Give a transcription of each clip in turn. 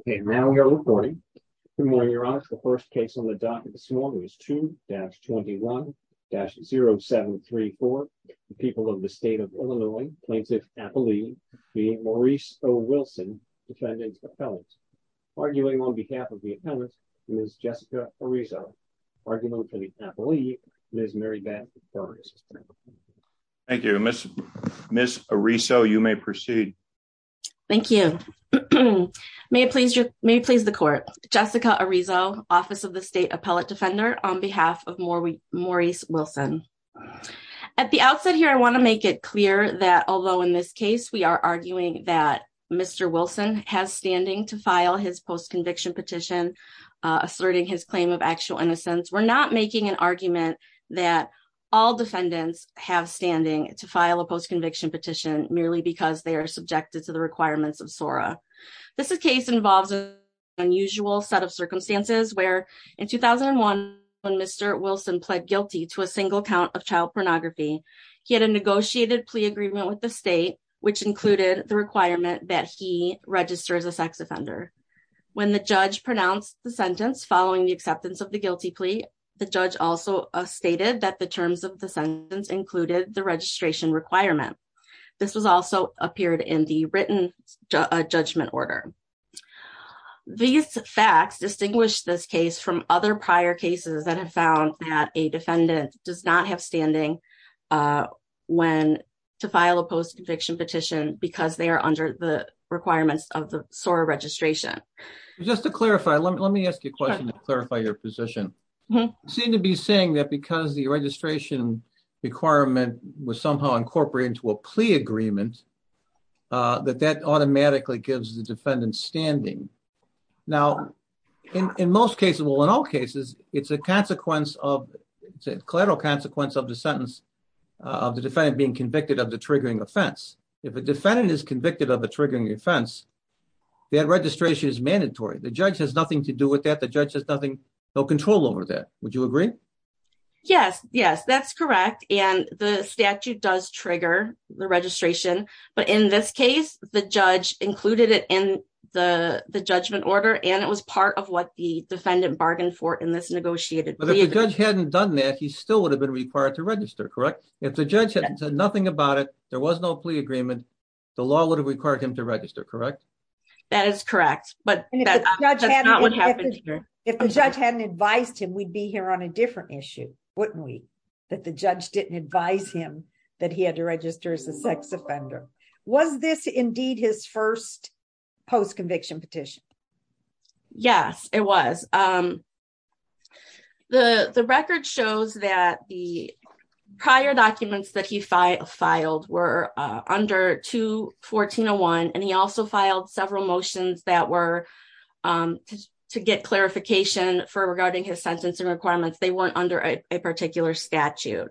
Okay, now we are recording. Good morning, Your Honor. The first case on the docket this morning is 2-21-0734. The people of the state of Illinois plaintiff appellee being Maurice O. Wilson, defendant's appellant, arguing on behalf of the appellant, Ms. Jessica Ariso, argument for the appellee, Ms. Mary Beth Burns. Thank you. Ms. Ariso, you may proceed. Thank you. May it please the court. Jessica Ariso, Office of the State Appellate Defender, on behalf of Maurice Wilson. At the outset here, I want to make it clear that although in this case we are arguing that Mr. Wilson has standing to file his post-conviction petition asserting his claim of actual innocence, we're not making an argument that all defendants have standing to file a post-conviction petition merely because they are subjected to the requirements of SORA. This case involves an unusual set of circumstances where in 2001, when Mr. Wilson pled guilty to a single count of child pornography, he had a negotiated plea agreement with the state, which included the requirement that he register as a sex offender. When the judge pronounced the sentence following the acceptance of the guilty plea, the judge also stated that the terms of sentence included the registration requirement. This was also appeared in the written judgment order. These facts distinguish this case from other prior cases that have found that a defendant does not have standing to file a post-conviction petition because they are under the requirements of the SORA registration. Just to clarify, let me ask you a question to clarify your position. You seem to be saying that because the registration requirement was somehow incorporated into a plea agreement, that that automatically gives the defendant standing. Now, in most cases, well, in all cases, it's a collateral consequence of the sentence of the defendant being convicted of the triggering offense. If a defendant is convicted of a triggering offense, that registration is mandatory. The judge has nothing to do with that. The judge has nothing, no control over that. Would you agree? Yes, yes, that's correct. And the statute does trigger the registration. But in this case, the judge included it in the judgment order, and it was part of what the defendant bargained for in this negotiated plea. But if the judge hadn't done that, he still would have been required to register, correct? If the judge hadn't said nothing about it, there was no plea agreement, the law would have required him to register, correct? That is correct. But if the judge hadn't advised him, we'd be here on a different issue, wouldn't we? That the judge didn't advise him that he had to register as a sex offender. Was this indeed his first post conviction petition? Yes, it was. The record shows that the several motions that were to get clarification for regarding his sentencing requirements, they weren't under a particular statute.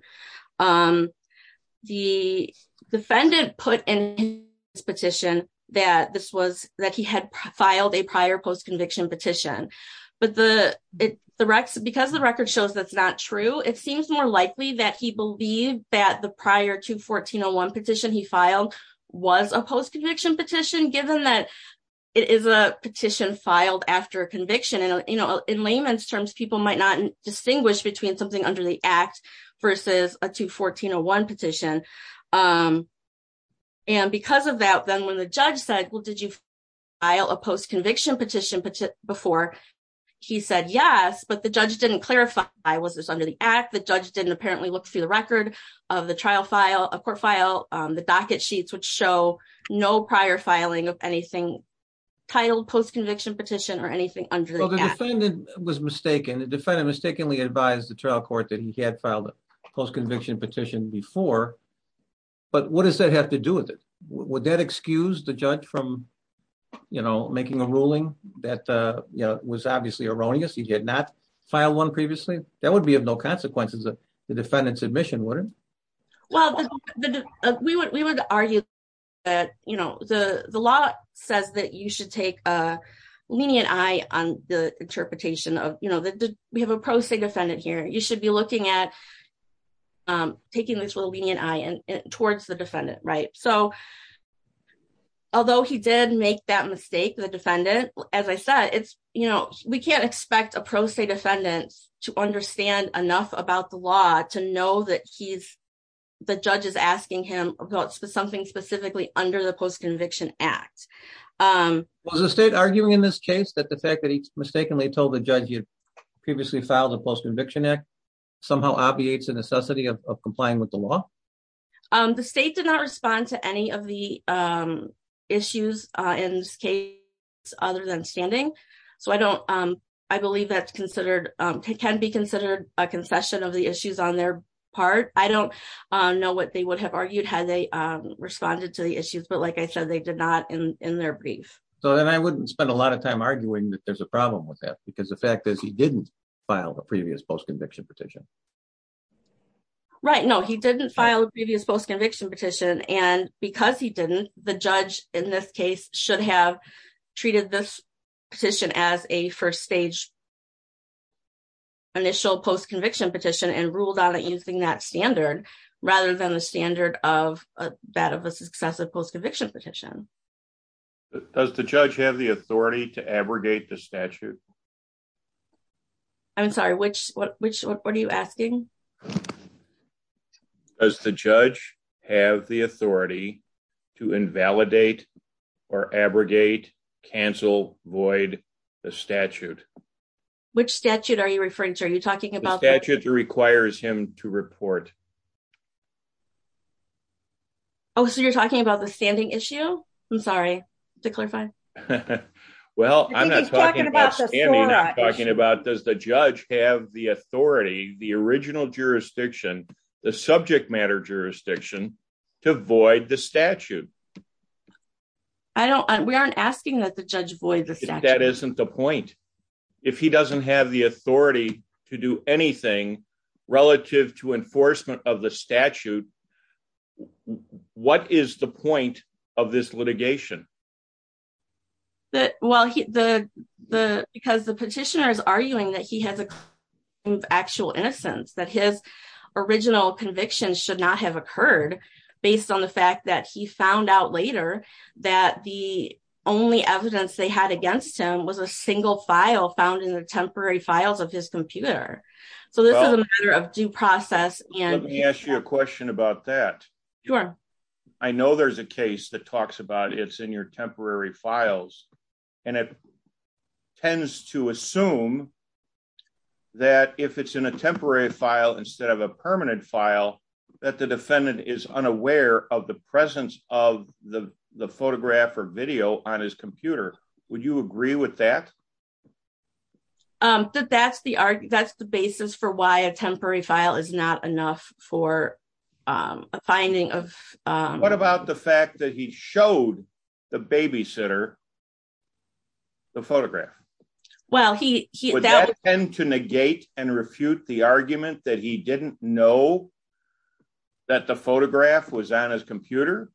The defendant put in his petition that this was that he had filed a prior post conviction petition. But because the record shows that's not true, it seems more likely that he believed that the prior to 1401 petition he filed was a post conviction petition given that it is a petition filed after a conviction. In layman's terms, people might not distinguish between something under the act versus a 214-01 petition. And because of that, then when the judge said, well, did you file a post conviction petition before? He said yes, but the judge didn't clarify, was this under the act? The judge didn't apparently look through the record of the trial file, a court file, the docket sheets, which show no prior filing of anything titled post conviction petition or anything under the act. Well, the defendant was mistaken. The defendant mistakenly advised the trial court that he had filed a post conviction petition before. But what does that have to do with it? Would that excuse the judge from making a ruling that was obviously erroneous, he did not file one previously? That would be of no consequences of the defendant's admission, wouldn't it? Well, we would argue that, you know, the law says that you should take a lenient eye on the interpretation of, you know, we have a pro se defendant here, you should be looking at taking this with a lenient eye towards the defendant, right? So, although he did make that mistake, the defendant, as I said, it's, you know, we can't expect a pro se defendants to understand enough about the law to know that he's, the judge is asking him about something specifically under the post conviction act. Was the state arguing in this case that the fact that he mistakenly told the judge you previously filed a post conviction act, somehow obviates the necessity of complying with the law? The state did not respond to any of the issues in this case, other than standing. So I don't, I believe that's considered, can be considered a concession of the issues on their part. I don't know what they would have argued had they responded to the issues. But like I said, they did not in their brief. So then I wouldn't spend a lot of time arguing that there's a problem with that. Because the fact is, he didn't file the previous post conviction petition. Right? No, he didn't file a previous post conviction petition. And because he didn't, the judge in this case should have treated this petition as a first stage initial post conviction petition and ruled on it using that standard, rather than the standard of that of a successive post conviction petition. Does the judge have the authority to abrogate the statute? I'm sorry, which what which what are you asking? Does the judge have the authority to invalidate or abrogate cancel void the statute? Which statute are you referring to? Are you talking about the statute that requires him to report? Oh, so you're talking about the standing issue? I'm sorry to clarify. Well, I'm not talking about talking about does the judge have the authority, the original jurisdiction, the subject matter jurisdiction to void the statute? I don't we aren't asking that the judge void that isn't the point. If he doesn't have the authority to do anything relative to enforcement of the statute. What is the point of this litigation? That well, he the the because the petitioner is arguing that he has a actual innocence that his original conviction should not have occurred, based on the fact that he found out later that the only evidence they had against him was a single file found in the temporary files of his computer. So this is a matter of due process. And let me ask you a question about that. Sure. I know there's a case that talks about it's in your temporary files. And it tends to assume that if it's in a temporary file, instead of a permanent file, that the defendant is unaware of the presence of the photograph or video on his computer. Would you agree with that? That that's the that's the basis for why a temporary file is not enough for a finding of what about the fact that he showed the babysitter? The photograph? Well, he would tend to negate and refute the argument that he didn't know that the photograph was on his computer.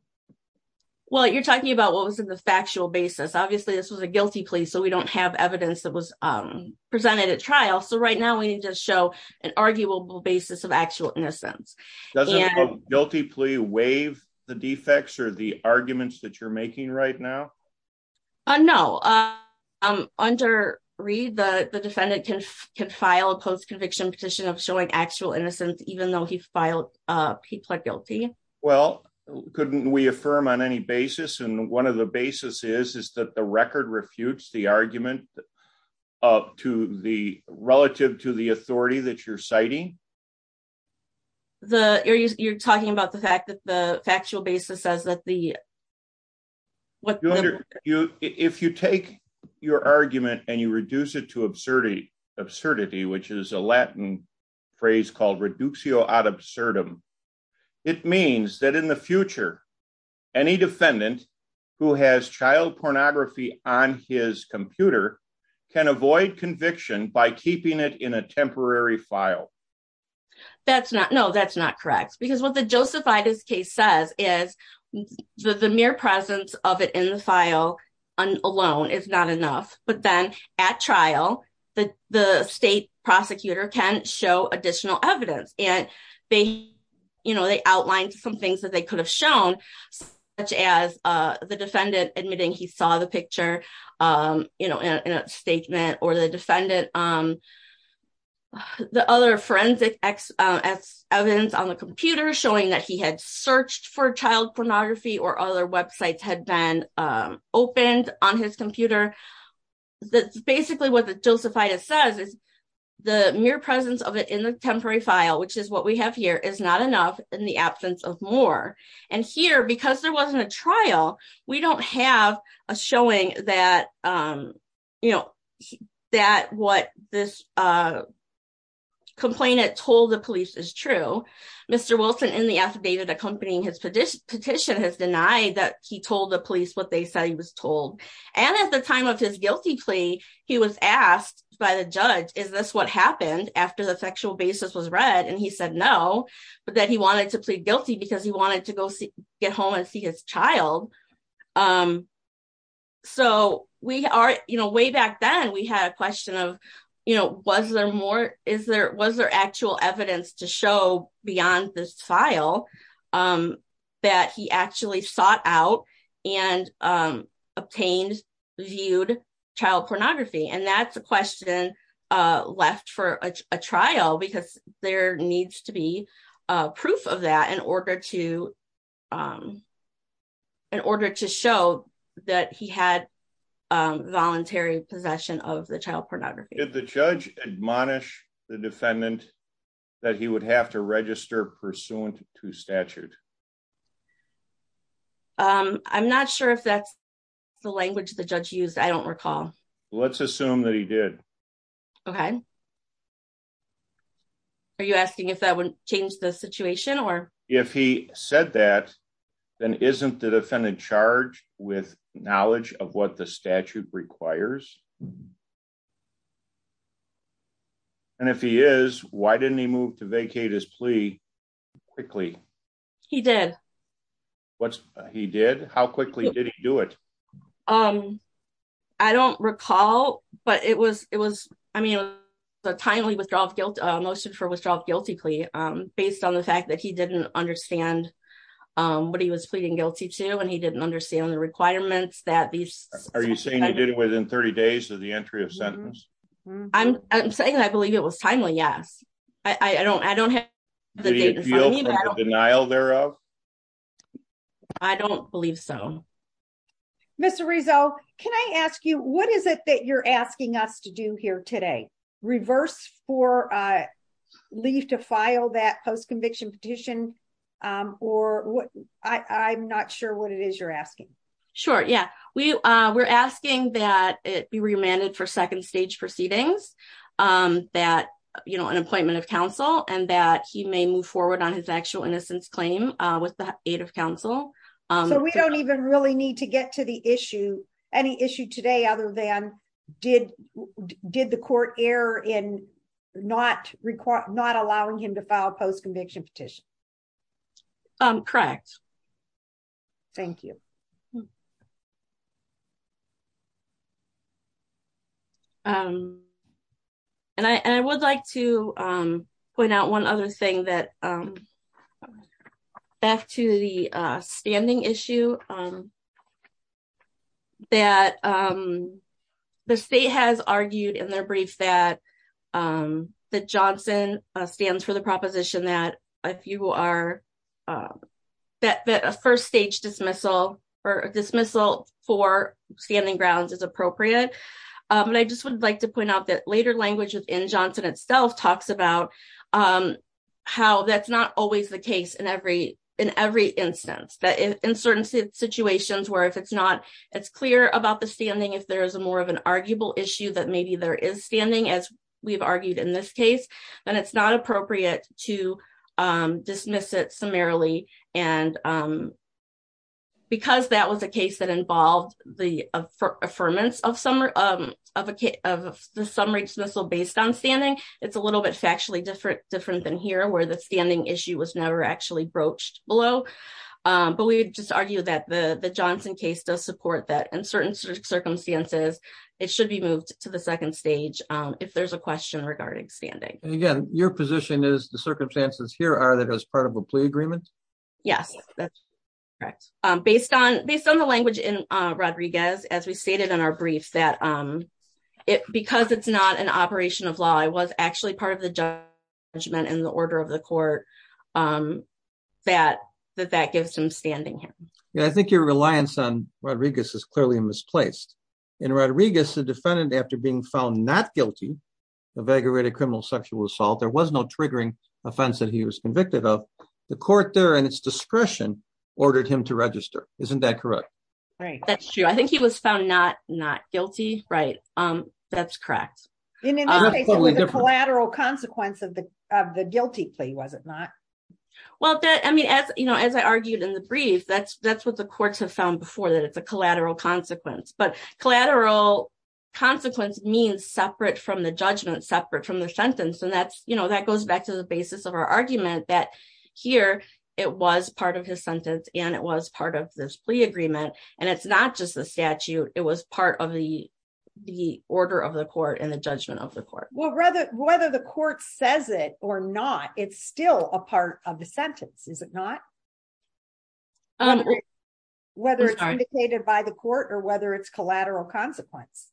Well, you're talking about what was in the factual basis. Obviously, this was a guilty plea. So we don't have evidence that was presented at trial. So right now, we need to show an arguable basis of actual innocence. Does a guilty plea waive the defects or the arguments that you're making right now? No, I'm under read the defendant can can file a post conviction petition of showing actual innocence, even though he filed. He pled guilty. Well, couldn't we affirm on any basis. And one of the basis is is that the record refutes the argument up to the relative to the authority that you're citing. The areas you're talking about the fact that the factual basis says that the what you if you take your argument and you reduce it to absurdity, absurdity, which is a Latin phrase called reductio ad absurdum. It means that in the future, any defendant who has child pornography on his computer can avoid conviction by keeping it in a temporary file. That's not no, that's not correct. Because what the Joseph Itis case says is the mere presence of it in the file alone is not enough. But then at trial, the the state prosecutor can show additional evidence and they, you know, they outlined some things that they could have shown, such as the defendant admitting he saw the picture, you know, in a statement or the defendant, the other forensic ex evidence on the computer showing that he had searched for child pornography or other websites had been opened on his computer. That's basically what the Joseph Itis says is the mere presence of it in the temporary file, which is what we have here is not enough in the absence of more. And here because there wasn't a trial, we don't have a showing that, you know, that what this complainant told the police is true. Mr. Wilson in the affidavit accompanying his petition petition has denied that he told the police what they said he was told. And at the time of his guilty plea, he was asked by the judge is this what happened after the sexual basis was read? And he said no, but that he wanted to plead guilty because he wanted to go get home and see his child. So we are, you know, way back then we had a question of, you know, was there more is there was there actual evidence to show beyond this file that he actually sought out and obtained viewed child pornography? And that's a question left for a trial because there needs to be proof of that in order to in order to show that he had voluntary possession of the child pornography. Did the judge admonish the defendant that he would have to register pursuant to statute? I'm not sure if that's the language the judge used. I don't recall. Let's assume that he did. Okay. Are you asking if that would change the situation or if he said that, then isn't the defendant charged with knowledge of what the statute requires? And if he is, why didn't he move to vacate his plea quickly? He did. What's he did? How quickly did he do it? Um, I don't recall, but it was, it was, I mean, the timely withdrawal of guilt motion for withdrawal guilty plea, um, based on the fact that he didn't understand, um, what he was pleading guilty to, and he didn't understand the requirements that these are you saying you did it within 30 days of the entry of sentence? I'm saying, I believe it was timely. Yes. I don't, I don't have the denial thereof. I don't believe so. Mr. Rizzo, can I ask you, what is it that you're asking us to do here today? Reverse for, uh, leave to file that post-conviction petition? Um, or what, I, I'm not sure what it is you're asking. Sure. Yeah. We, uh, we're asking that it be remanded for second stage proceedings, um, that, you know, an appointment of counsel and that he may move forward on his actual claim, uh, with the aid of counsel. Um, so we don't even really need to get to the issue, any issue today other than did, did the court error in not require, not allowing him to file post-conviction petition? Um, correct. Thank you. Um, and I, and I would like to, um, point out one other thing that, um, back to the, uh, standing issue, um, that, um, the state has argued in their brief that, um, that Johnson stands for the proposition that if you are, uh, that, that a first stage dismissal or dismissal for standing grounds is appropriate. Um, and I just would like to point out that later language within Johnson itself talks about, um, how that's not always the case in every, in every instance that in certain situations where if it's not, it's clear about the standing, if there is a more of an arguable issue that maybe there is standing as we've argued in this case, then it's not appropriate to, um, dismiss it summarily. And, um, because that was a case that involved the affirmance of summer, um, of a case of the summary dismissal based on standing, it's a little bit factually different, different than here where the standing issue was never actually broached below. Um, but we would just argue that the Johnson case does support that in certain circumstances, it should be moved to the second stage. Um, if there's a question regarding standing. And again, your position is the circumstances here are that as part of a plea Yes, that's correct. Um, based on, based on the language in Rodriguez, as we stated in our brief that, um, it, because it's not an operation of law, I was actually part of the judgment in the order of the court. Um, that, that, that gives him standing here. Yeah. I think your reliance on Rodriguez is clearly misplaced in Rodriguez, the defendant, after being found not guilty of aggravated criminal sexual assault, there was no triggering offense that he was convicted of the court there and it's discretion ordered him to register. Isn't that correct? Right. That's true. I think he was found not, not guilty. Right. Um, that's cracked collateral consequence of the, of the guilty plea. Was it not? Well, I mean, as, you know, as I argued in the brief, that's, that's what the courts have found before that it's a collateral consequence, but collateral consequence means separate from the judgment separate from the sentence. And that's, you know, that goes back to the basis of our here. It was part of his sentence and it was part of this plea agreement. And it's not just the statute. It was part of the, the order of the court and the judgment of the court. Well, rather, whether the court says it or not, it's still a part of the sentence. Is it not? Whether it's indicated by the court or whether it's collateral consequence.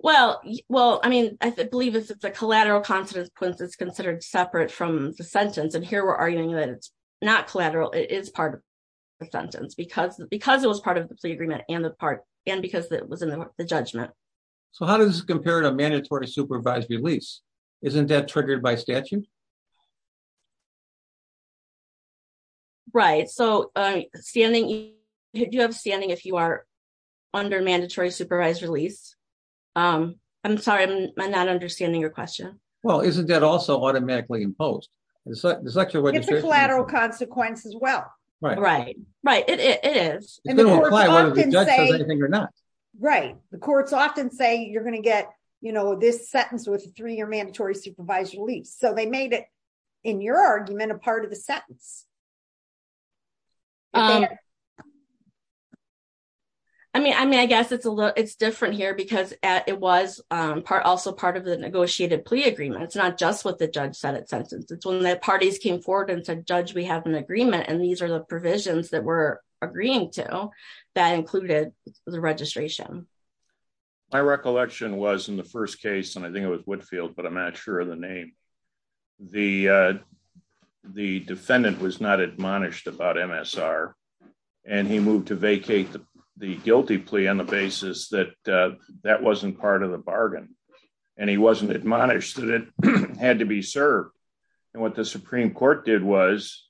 Well, well, I mean, I believe it's, it's a collateral consequence. It's considered separate from the sentence. And here we're arguing that it's not collateral. It is part of the sentence because, because it was part of the plea agreement and the part, and because it was in the judgment. So how does this compare to mandatory supervised release? Isn't that triggered by statute? Right. So standing, do you have standing if you are under mandatory supervised release? Um, I'm sorry, I'm not understanding your question. Well, isn't that also automatically imposed? It's a collateral consequence as well. Right. Right. It is. Right. The courts often say you're going to get, you know, this sentence with three-year mandatory supervised release. So they made it in your argument, a part of the sentence. I mean, I mean, I guess it's a little, it's different here because it was, um, part also of the negotiated plea agreement. It's not just what the judge said at sentence. It's when the parties came forward and said, judge, we have an agreement. And these are the provisions that we're agreeing to that included the registration. My recollection was in the first case. And I think it was Whitfield, but I'm not sure of the name. The, uh, the defendant was not admonished about MSR and he moved to vacate the guilty plea on the basis that, uh, that wasn't part of the bargain. And he wasn't admonished that it had to be served. And what the Supreme court did was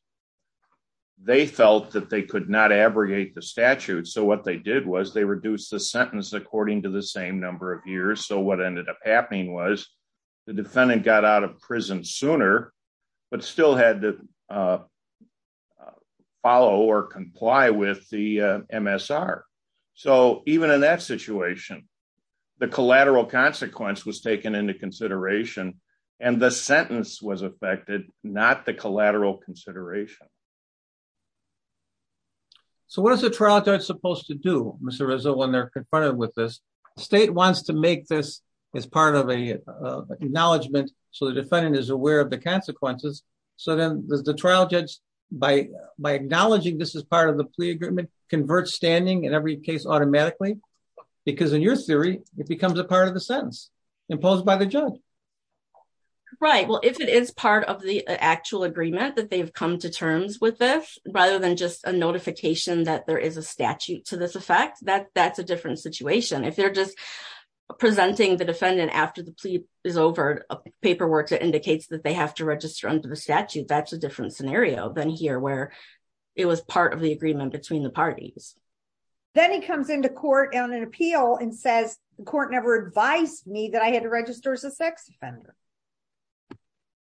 they felt that they could not abrogate the statute. So what they did was they reduced the sentence according to the same number of years. So what ended up happening was the defendant got out of prison sooner, but still had to, uh, uh, follow or comply with the, uh, so even in that situation, the collateral consequence was taken into consideration and the sentence was affected, not the collateral consideration. So what is the trial judge supposed to do? Mr. Rizzo, when they're confronted with this state wants to make this as part of a, uh, acknowledgement. So the defendant is aware of the consequences. So then there's the trial judge by, by acknowledging this as part of the agreement convert standing in every case automatically, because in your theory, it becomes a part of the sentence imposed by the judge, right? Well, if it is part of the actual agreement that they've come to terms with this, rather than just a notification that there is a statute to this effect, that that's a different situation. If they're just presenting the defendant after the plea is over paperwork that indicates that they have to register under the the parties. Then he comes into court on an appeal and says, the court never advised me that I had to register as a sex offender,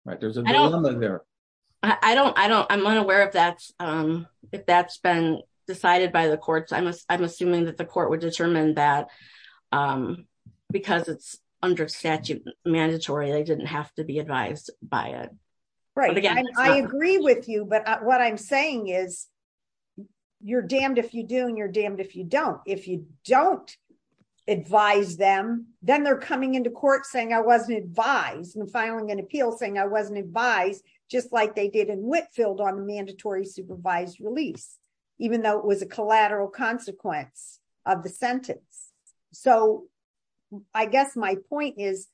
right? There's a, I don't, I don't, I don't, I'm unaware of that. Um, if that's been decided by the courts, I must, I'm assuming that the court would determine that, um, because it's under statute mandatory, they didn't have to advise by it. Right. I agree with you. But what I'm saying is you're damned if you do and you're damned if you don't, if you don't advise them, then they're coming into court saying I wasn't advised and filing an appeal saying I wasn't advised just like they did in Whitfield on the mandatory supervised release, even though it was a collateral consequence of the sentence. So I guess my point is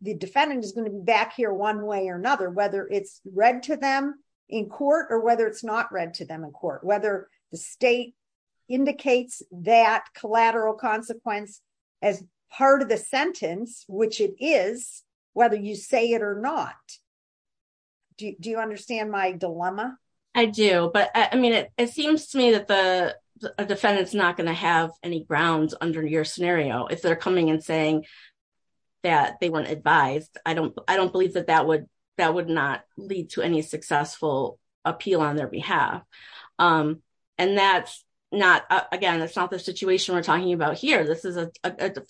the defendant is going to be back here one way or another, whether it's read to them in court or whether it's not read to them in court, whether the state indicates that collateral consequence as part of the sentence, which it is, whether you say it or not. Do you, do you understand my dilemma? I do, but I mean, it, it seems to me that the scenario, if they're coming and saying that they weren't advised, I don't, I don't believe that that would, that would not lead to any successful appeal on their behalf. Um, and that's not, again, that's not the situation we're talking about here. This is a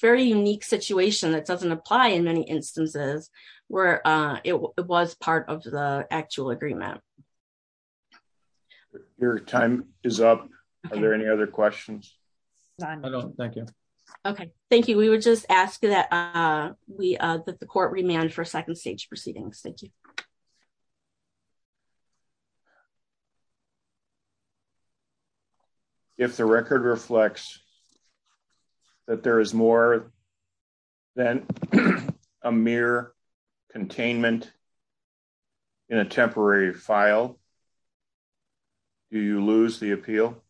very unique situation that doesn't apply in many instances where, uh, it was part of the actual agreement. Your time is up. Are there any other questions? No, thank you. Okay. Thank you. We were just asking that, uh, we, uh, that the court remand for second stage proceedings. Thank you. If the record reflects that there is more than a mere containment in a temporary file, do you lose the appeal?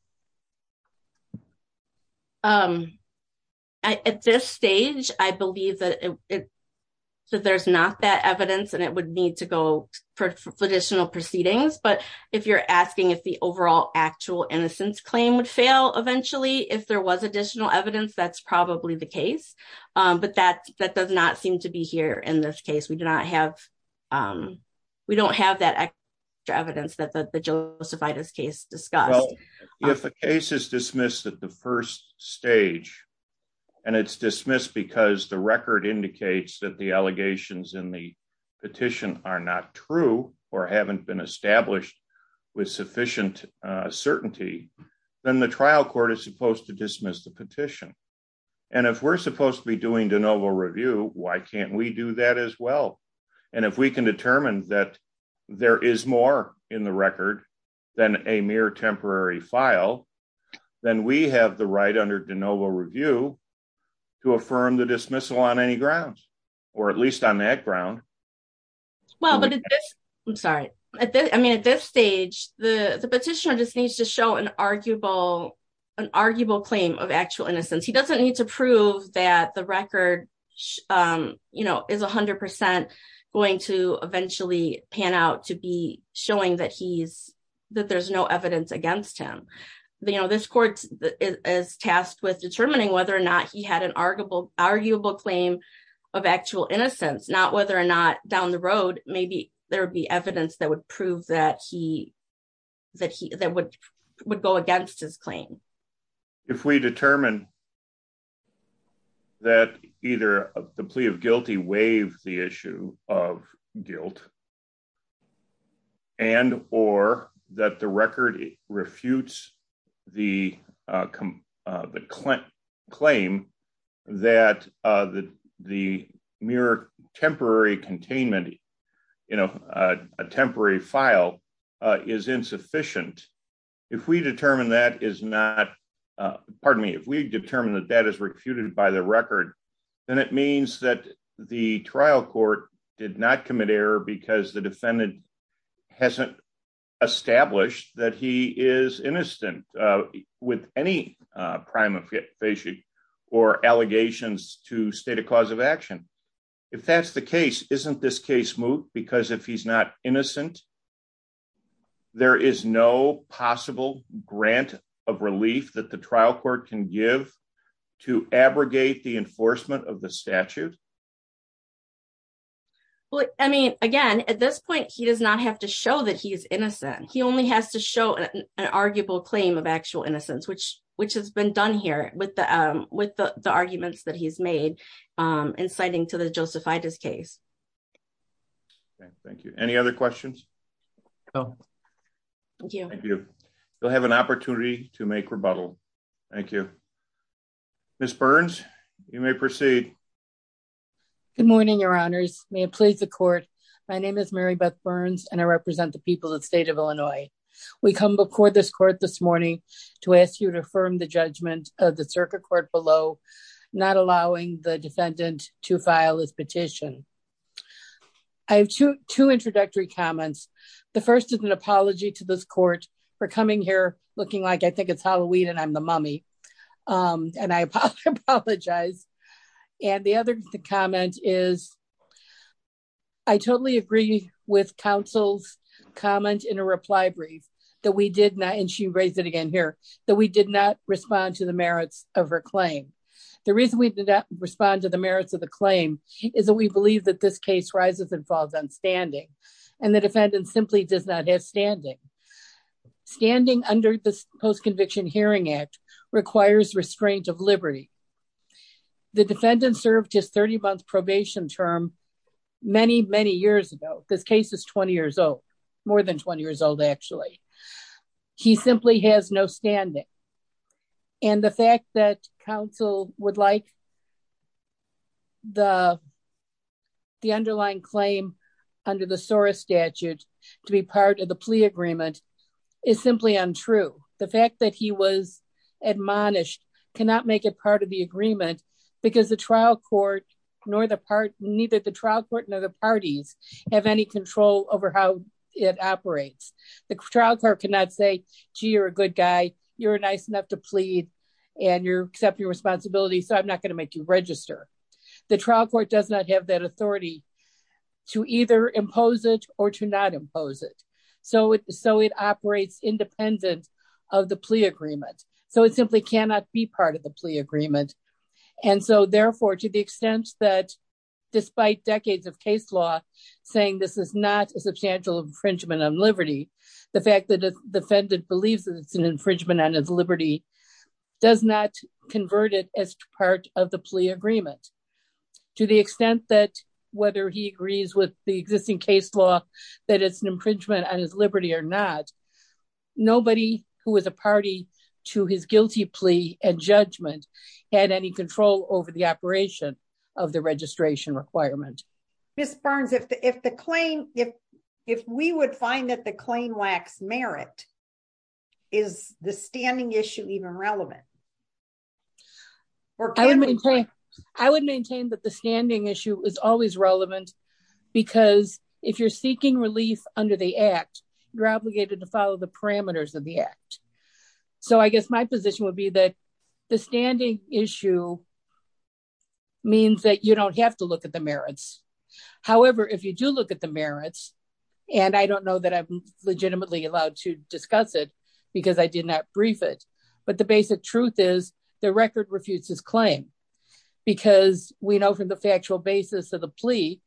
Um, I, at this stage, I believe that it, that there's not that evidence and it would need to go for additional proceedings. But if you're asking if the overall actual innocence claim would fail eventually, if there was additional evidence, that's probably the case. Um, but that, that does not seem to be here in this case. We do not have, um, we don't have that evidence that the Josephitis case discussed. If the case is dismissed at the first stage and it's dismissed because the record indicates that the allegations in the petition are not true or haven't been established with sufficient, uh, certainty, then the trial court is supposed to dismiss the petition. And if we're supposed to be doing de novo review, why can't we do that as well? And if we can determine that there is more in the record than a mere temporary file, then we have the right under de novo review to affirm the dismissal on any grounds, or at least on that ground. Well, but I'm sorry. I mean, at this stage, the petitioner just needs to show an arguable, an arguable claim of actual innocence. He doesn't need to prove that the record, um, you know, is a hundred percent going to eventually pan out to be showing that he's, that there's no evidence against him. You know, this court is tasked with determining whether or not he had an arguable, arguable claim of actual innocence, not whether or not down the road, maybe there would be evidence that would prove that he, that he, that would, would go against his claim. If we determine that either the plea of guilty waive the issue of guilt and, or that the record refutes the, uh, the mere temporary containment, you know, uh, a temporary file, uh, is insufficient. If we determine that is not, uh, pardon me, if we determine that that is refuted by the record, then it means that the trial court did not commit error because the defendant hasn't established that he is innocent, uh, with any, uh, prima facie or allegations to state a cause of action. If that's the case, isn't this case moot? Because if he's not innocent, there is no possible grant of relief that the trial court can give to abrogate the enforcement of the statute. Well, I mean, again, at this point, he does not have to show that he is innocent. He only has to show an arguable claim of actual innocence, which, which has been done here with the, um, with the arguments that he's made, um, inciting to the Josephitis case. Thank you. Any other questions? Thank you. Thank you. You'll have an opportunity to make rebuttal. Thank you. Ms. Burns, you may proceed. Good morning, your honors. May it please the court. My name is Mary Beth Burns and I represent the people of state of Illinois. We come before this court this morning to ask you to affirm the judgment of the circuit court below, not allowing the defendant to file his petition. I have two, two introductory comments. The first is an apology to this court for coming here looking like I think it's Halloween and I'm the mummy. Um, and I apologize. And the other comment is I totally agree with counsel's comment in a reply brief that we did not, and she raised it again here, that we did not respond to the merits of her claim. The reason we did not respond to the merits of the claim is that we believe that this case rises and falls on standing and the defendant simply does not have standing. Standing under this post conviction hearing act requires restraint of this case is 20 years old, more than 20 years old. Actually, he simply has no standing. And the fact that counsel would like the, the underlying claim under the SORA statute to be part of the plea agreement is simply untrue. The fact that he was admonished cannot make it part of the agreement because the trial court nor the part, neither the trial court, nor the parties, have any control over how it operates. The trial court cannot say, gee, you're a good guy. You're nice enough to plead and you're accepting responsibility. So I'm not going to make you register. The trial court does not have that authority to either impose it or to not impose it. So it, so it operates independent of the plea agreement. So it simply cannot be part of the saying, this is not a substantial infringement on liberty. The fact that the defendant believes that it's an infringement on his liberty does not convert it as part of the plea agreement to the extent that whether he agrees with the existing case law, that it's an infringement on his liberty or not. Nobody who was a party to his guilty plea and judgment had any control over the operation of the registration requirement. Ms. Barnes, if the, if the claim, if, if we would find that the claim lacks merit, is the standing issue even relevant? I would maintain that the standing issue is always relevant because if you're seeking relief under the act, you're obligated to follow the parameters of the act. So I guess my position would be that the standing issue means that you don't have to look at the merits. However, if you do look at the merits, and I don't know that I'm legitimately allowed to discuss it because I did not brief it, but the basic truth is the record refutes his claim because we know from the factual basis of the plea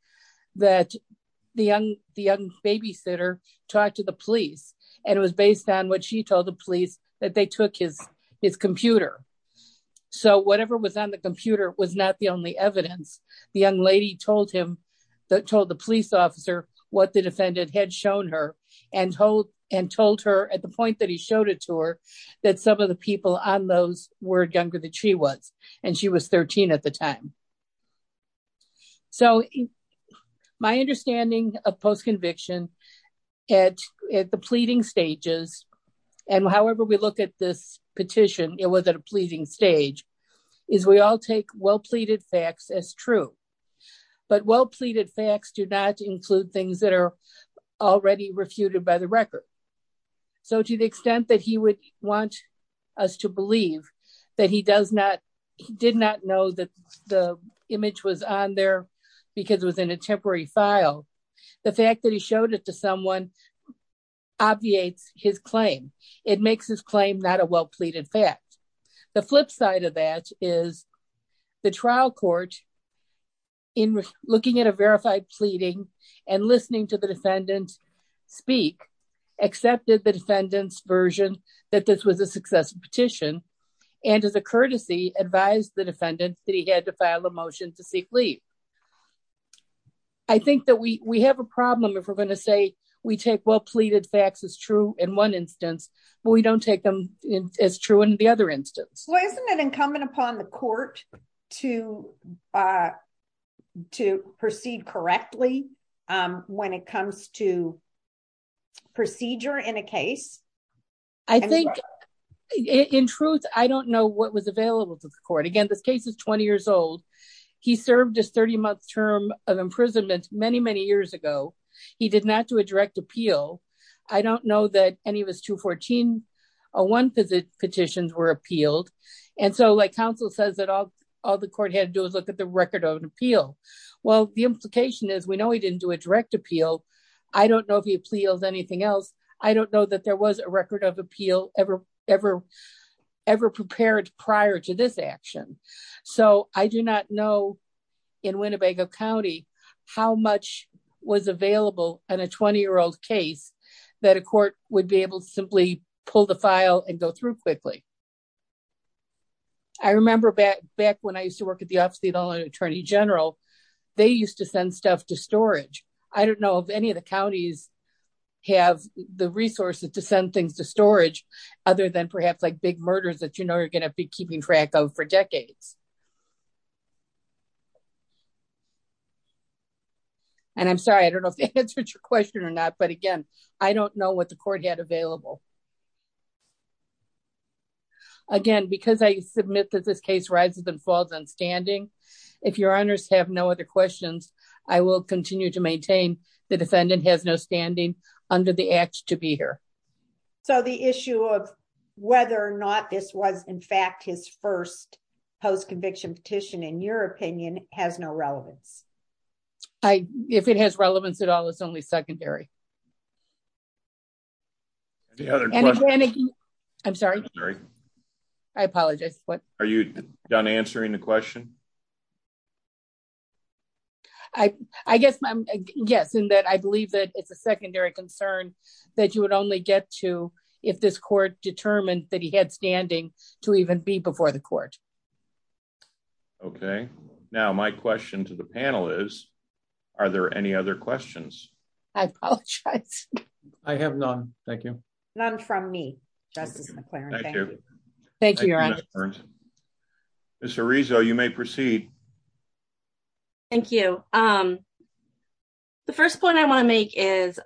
that the young, the young babysitter talked to the police and it was based on what she told the police that they took his, his computer. So whatever was on the computer was not the only evidence. The young lady told him that told the police officer what the defendant had shown her and told, and told her at the point that he showed it to her, that some of the people on those were younger than she was. And she was 13 at the time. So my understanding of post conviction at, at the pleading stages. And however, we look at this petition, it was at a pleading stage is we all take well-pleaded facts as true, but well-pleaded facts do not include things that are already refuted by the record. So to the extent that he would want us to believe that he does not, he did not know that the image was on there because it was in a temporary file. The fact that he showed it to someone obviates his claim. It makes his claim not a well-pleaded fact. The flip side of that is the trial court in looking at a verified pleading and listening to the defendant speak, accepted the defendant's version that this was a successful petition. And as a courtesy advised the defendant that he had to file a motion to seek leave. I think that we, we have a problem. If we're going to say we take well-pleaded facts is true in one instance, but we don't take them as true in the other instance. Well, isn't it incumbent upon the court to, to proceed correctly when it comes to procedure in a case? I think in truth, I don't know what was available to the court. Again, this case is 20 years old. He served his 30 months term of imprisonment many, many years ago. He did not do a direct appeal. I don't know that any of his 214-01 petitions were appealed. And so like counsel says that all, all the court had to do is look at the record of an appeal. Well, the implication is we know he didn't do a direct appeal. I don't know if he appeals anything else. I don't know that there was a record of appeal ever, ever prepared prior to this action. So I do not know in Winnebago County, how much was available in a 20 year old case that a court would be able to simply pull the file and go through quickly. I remember back, back when I used to work at the office of the attorney general, they used to send stuff to storage. I don't know if any of the counties have the resources to send things to storage, other than perhaps like big murders that you know, you're going to be keeping track of for decades. And I'm sorry, I don't know if that answered your question or not, but again, I don't know what the court had available. Again, because I submit that this case rises and falls on standing. If your honors have no other questions, I will continue to maintain the defendant has no standing under the act to be here. So the issue of whether or not this was in fact his first post conviction petition, in your opinion, has no relevance. If it has relevance at all, it's only secondary. I'm sorry. I apologize. Are you done answering the question? I, I guess I'm guessing that I believe that it's a secondary concern that you would only get to if this court determined that he had standing to even be before the court. Okay. Now my question to the panel is, are there any other questions? I apologize. I have none. Thank you. None from me, Justice McClaren. Thank you. Thank you. Mr. Rizzo, you may proceed. Thank you. The first point I want to make is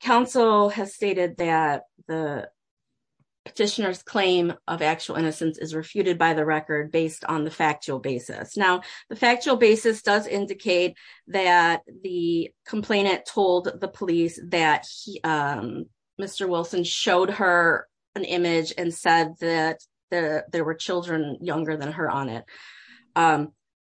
council has stated that the petitioner's claim of actual innocence is refuted by the record based on the factual basis. Now the factual basis does indicate that the complainant told the police that Mr. Wilson showed her an image and said that there were children younger than her on it.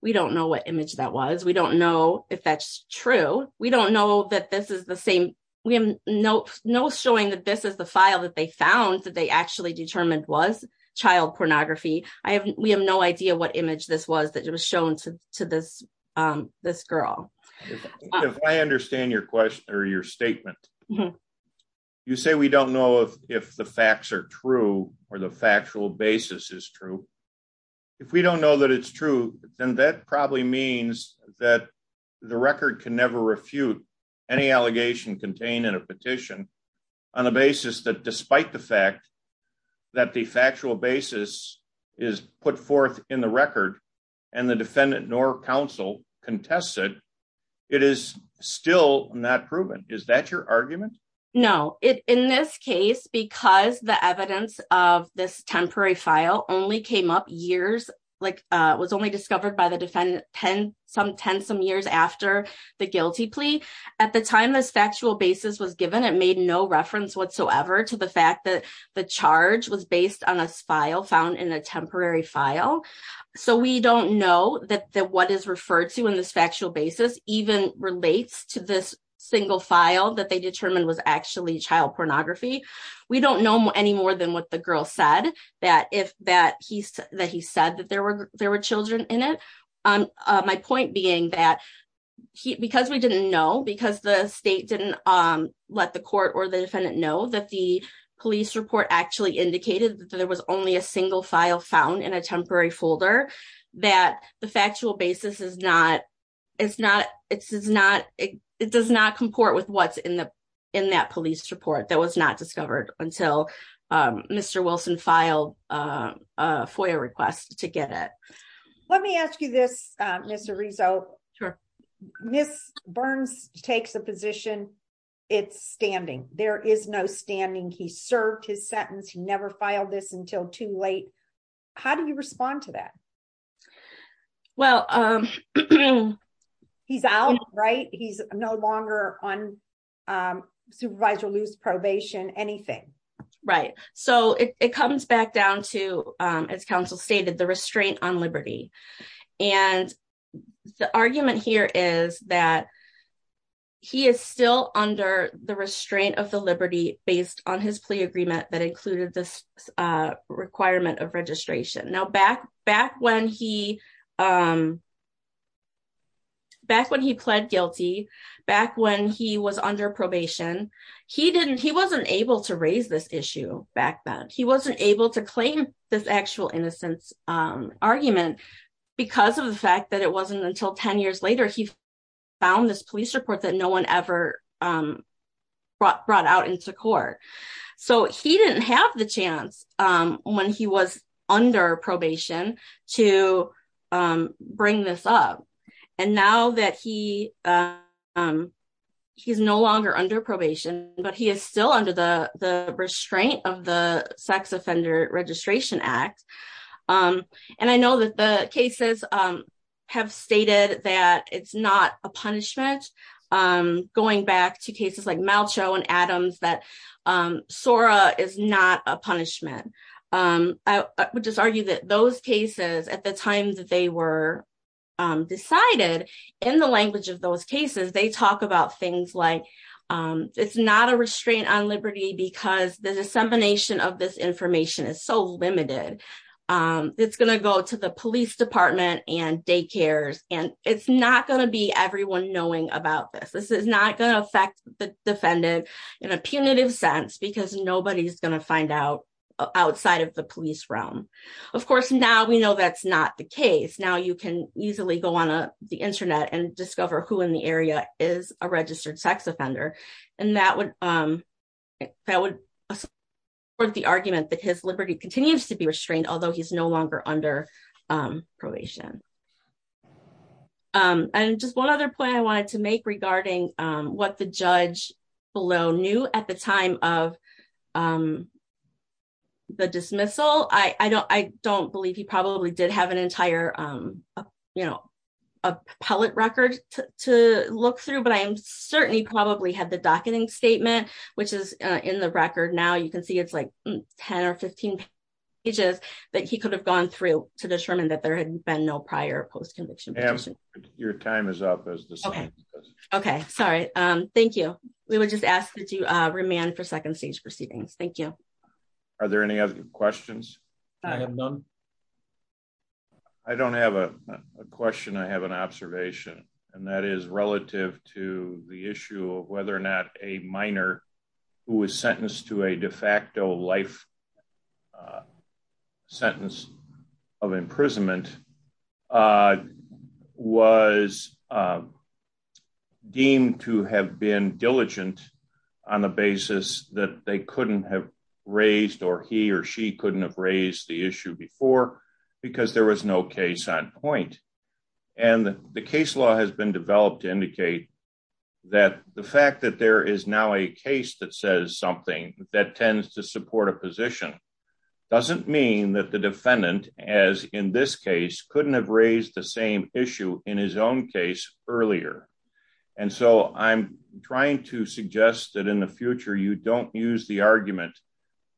We don't know what image that was. We don't know if that's true. We don't know that this is the same. We have no showing that this is the file that they found that they actually determined was child pornography. I have, we have no idea what image this was, that it was shown to this, this girl. If I understand your question or your statement, you say we don't know if the facts are true or the factual basis is true. If we don't know that it's true, then that probably means that the record can never refute any allegation contained in a petition on a basis that despite the fact that the factual basis is put forth in the record and the defendant nor council contested, it is still not proven. Is that your argument? No. In this case, because the evidence of this temporary file only came up years, like it was only discovered by the defendant 10, some 10, some years after the guilty plea. At the time this factual basis was given, it made no reference whatsoever to the fact that the charge was based on a file found in a temporary file. So we don't know that the, what is referred to in this factual basis even relates to this single file that they determined was actually child pornography. We don't know any more than what the girl said that if that he's, that he said that there were, there were children in it. My point being that he, because we didn't know because the state didn't let the court or the actually indicated that there was only a single file found in a temporary folder that the factual basis is not, it's not, it's not, it does not comport with what's in the, in that police report that was not discovered until Mr. Wilson filed a FOIA request to get it. Let me ask you this, Mr. Rizzo, Ms. Burns takes a position, it's standing. There is no standing. He served his sentence. He never filed this until too late. How do you respond to that? Well, he's out, right? He's no longer on supervisor loose probation, anything. Right. So it comes back down to, as counsel stated, the restraint on liberty. And the argument here is that he is still under the restraint of the liberty based on his plea agreement that included this requirement of registration. Now, back, back when he, back when he pled guilty, back when he was under probation, he didn't, he wasn't able to raise this issue back then. He wasn't able to claim this actual innocence argument because of the fact that it wasn't until 10 years later, he found this police report that no one ever brought out into court. So he didn't have the chance when he was under probation to bring this up. And now that he, he's no longer under probation, but he is still under the, the restraint of the sex offender registration act. And I know that the cases have stated that it's not a punishment. Going back to cases like Malcho and Adams, that SORA is not a punishment. I would just argue that those cases at the time that they were decided in the language of those cases, they talk about things like it's not a restraint on liberty because the dissemination of this information is so limited. It's going to go to the police department and daycares, and it's not going to be everyone knowing about this. This is not going to affect the defendant in a punitive sense, because nobody's going to find out outside of the police realm. Of course, now we know that's not the case. Now you can easily go on the internet and that would support the argument that his liberty continues to be restrained, although he's no longer under probation. And just one other point I wanted to make regarding what the judge below knew at the time of the dismissal. I don't believe he probably did have an entire appellate record to look through, but I certainly probably had the docketing statement, which is in the record now. You can see it's like 10 or 15 pages that he could have gone through to determine that there had been no prior post-conviction petition. Ma'am, your time is up. Okay, sorry. Thank you. We would just ask that you remand for second stage proceedings. Thank you. Are there any other questions? I don't have a question. I have an observation, and that is relative to the issue of whether or not a minor who was sentenced to a de facto life sentence of imprisonment was deemed to have been diligent on the basis that they couldn't have raised, or he or she couldn't have raised the case on point. And the case law has been developed to indicate that the fact that there is now a case that says something that tends to support a position doesn't mean that the defendant, as in this case, couldn't have raised the same issue in his own case earlier. And so I'm trying to suggest that in the future, you don't use the argument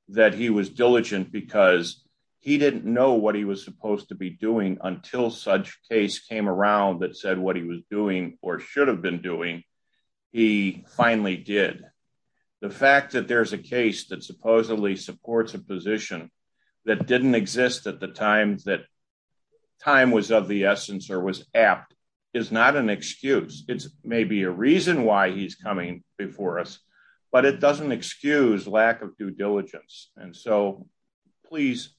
that he was diligent because he didn't know what he was supposed to be doing until such case came around that said what he was doing or should have been doing. He finally did. The fact that there's a case that supposedly supports a position that didn't exist at the time that time was of the essence or was apt is not an excuse. It's maybe a reason why he's coming before us, but it doesn't excuse lack of diligence. And so please,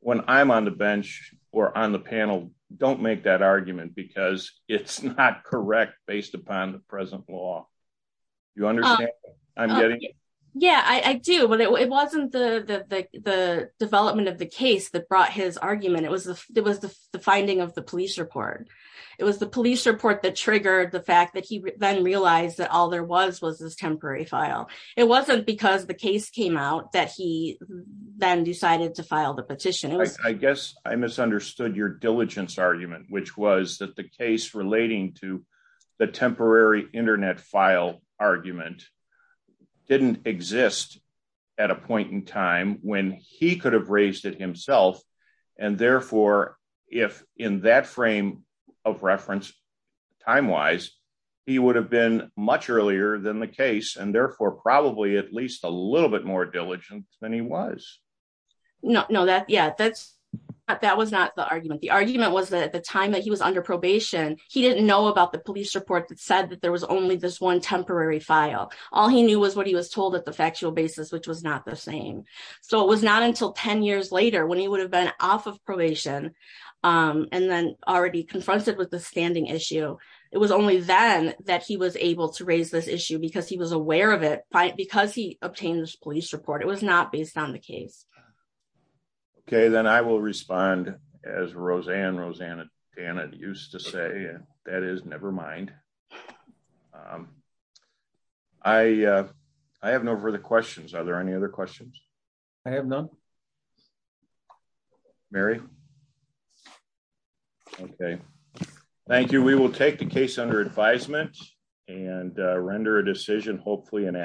when I'm on the bench or on the panel, don't make that argument because it's not correct based upon the present law. You understand what I'm getting at? Yeah, I do. But it wasn't the development of the case that brought his argument. It was the finding of the police report. It was the police report that triggered the fact that he then there was was this temporary file. It wasn't because the case came out that he then decided to file the petition. I guess I misunderstood your diligence argument, which was that the case relating to the temporary internet file argument didn't exist at a point in time when he could have raised it himself. And therefore, if in that frame of reference, time-wise, he would have been much earlier than the case and therefore probably at least a little bit more diligent than he was. No, that was not the argument. The argument was that at the time that he was under probation, he didn't know about the police report that said that there was only this one temporary file. All he knew was what he was told at the factual basis, which was not the same. So it was not until 10 years later when he would have been off of probation and then already confronted with the standing issue. It was only then that he was able to raise this issue because he was aware of it because he obtained this police report. It was not based on the case. Okay, then I will respond as Roseanne Rosanna used to say, and that is never mind. I have no further questions. Are there any other questions? I have none. Mary. Okay, thank you. We will take the case under advisement and render a decision hopefully in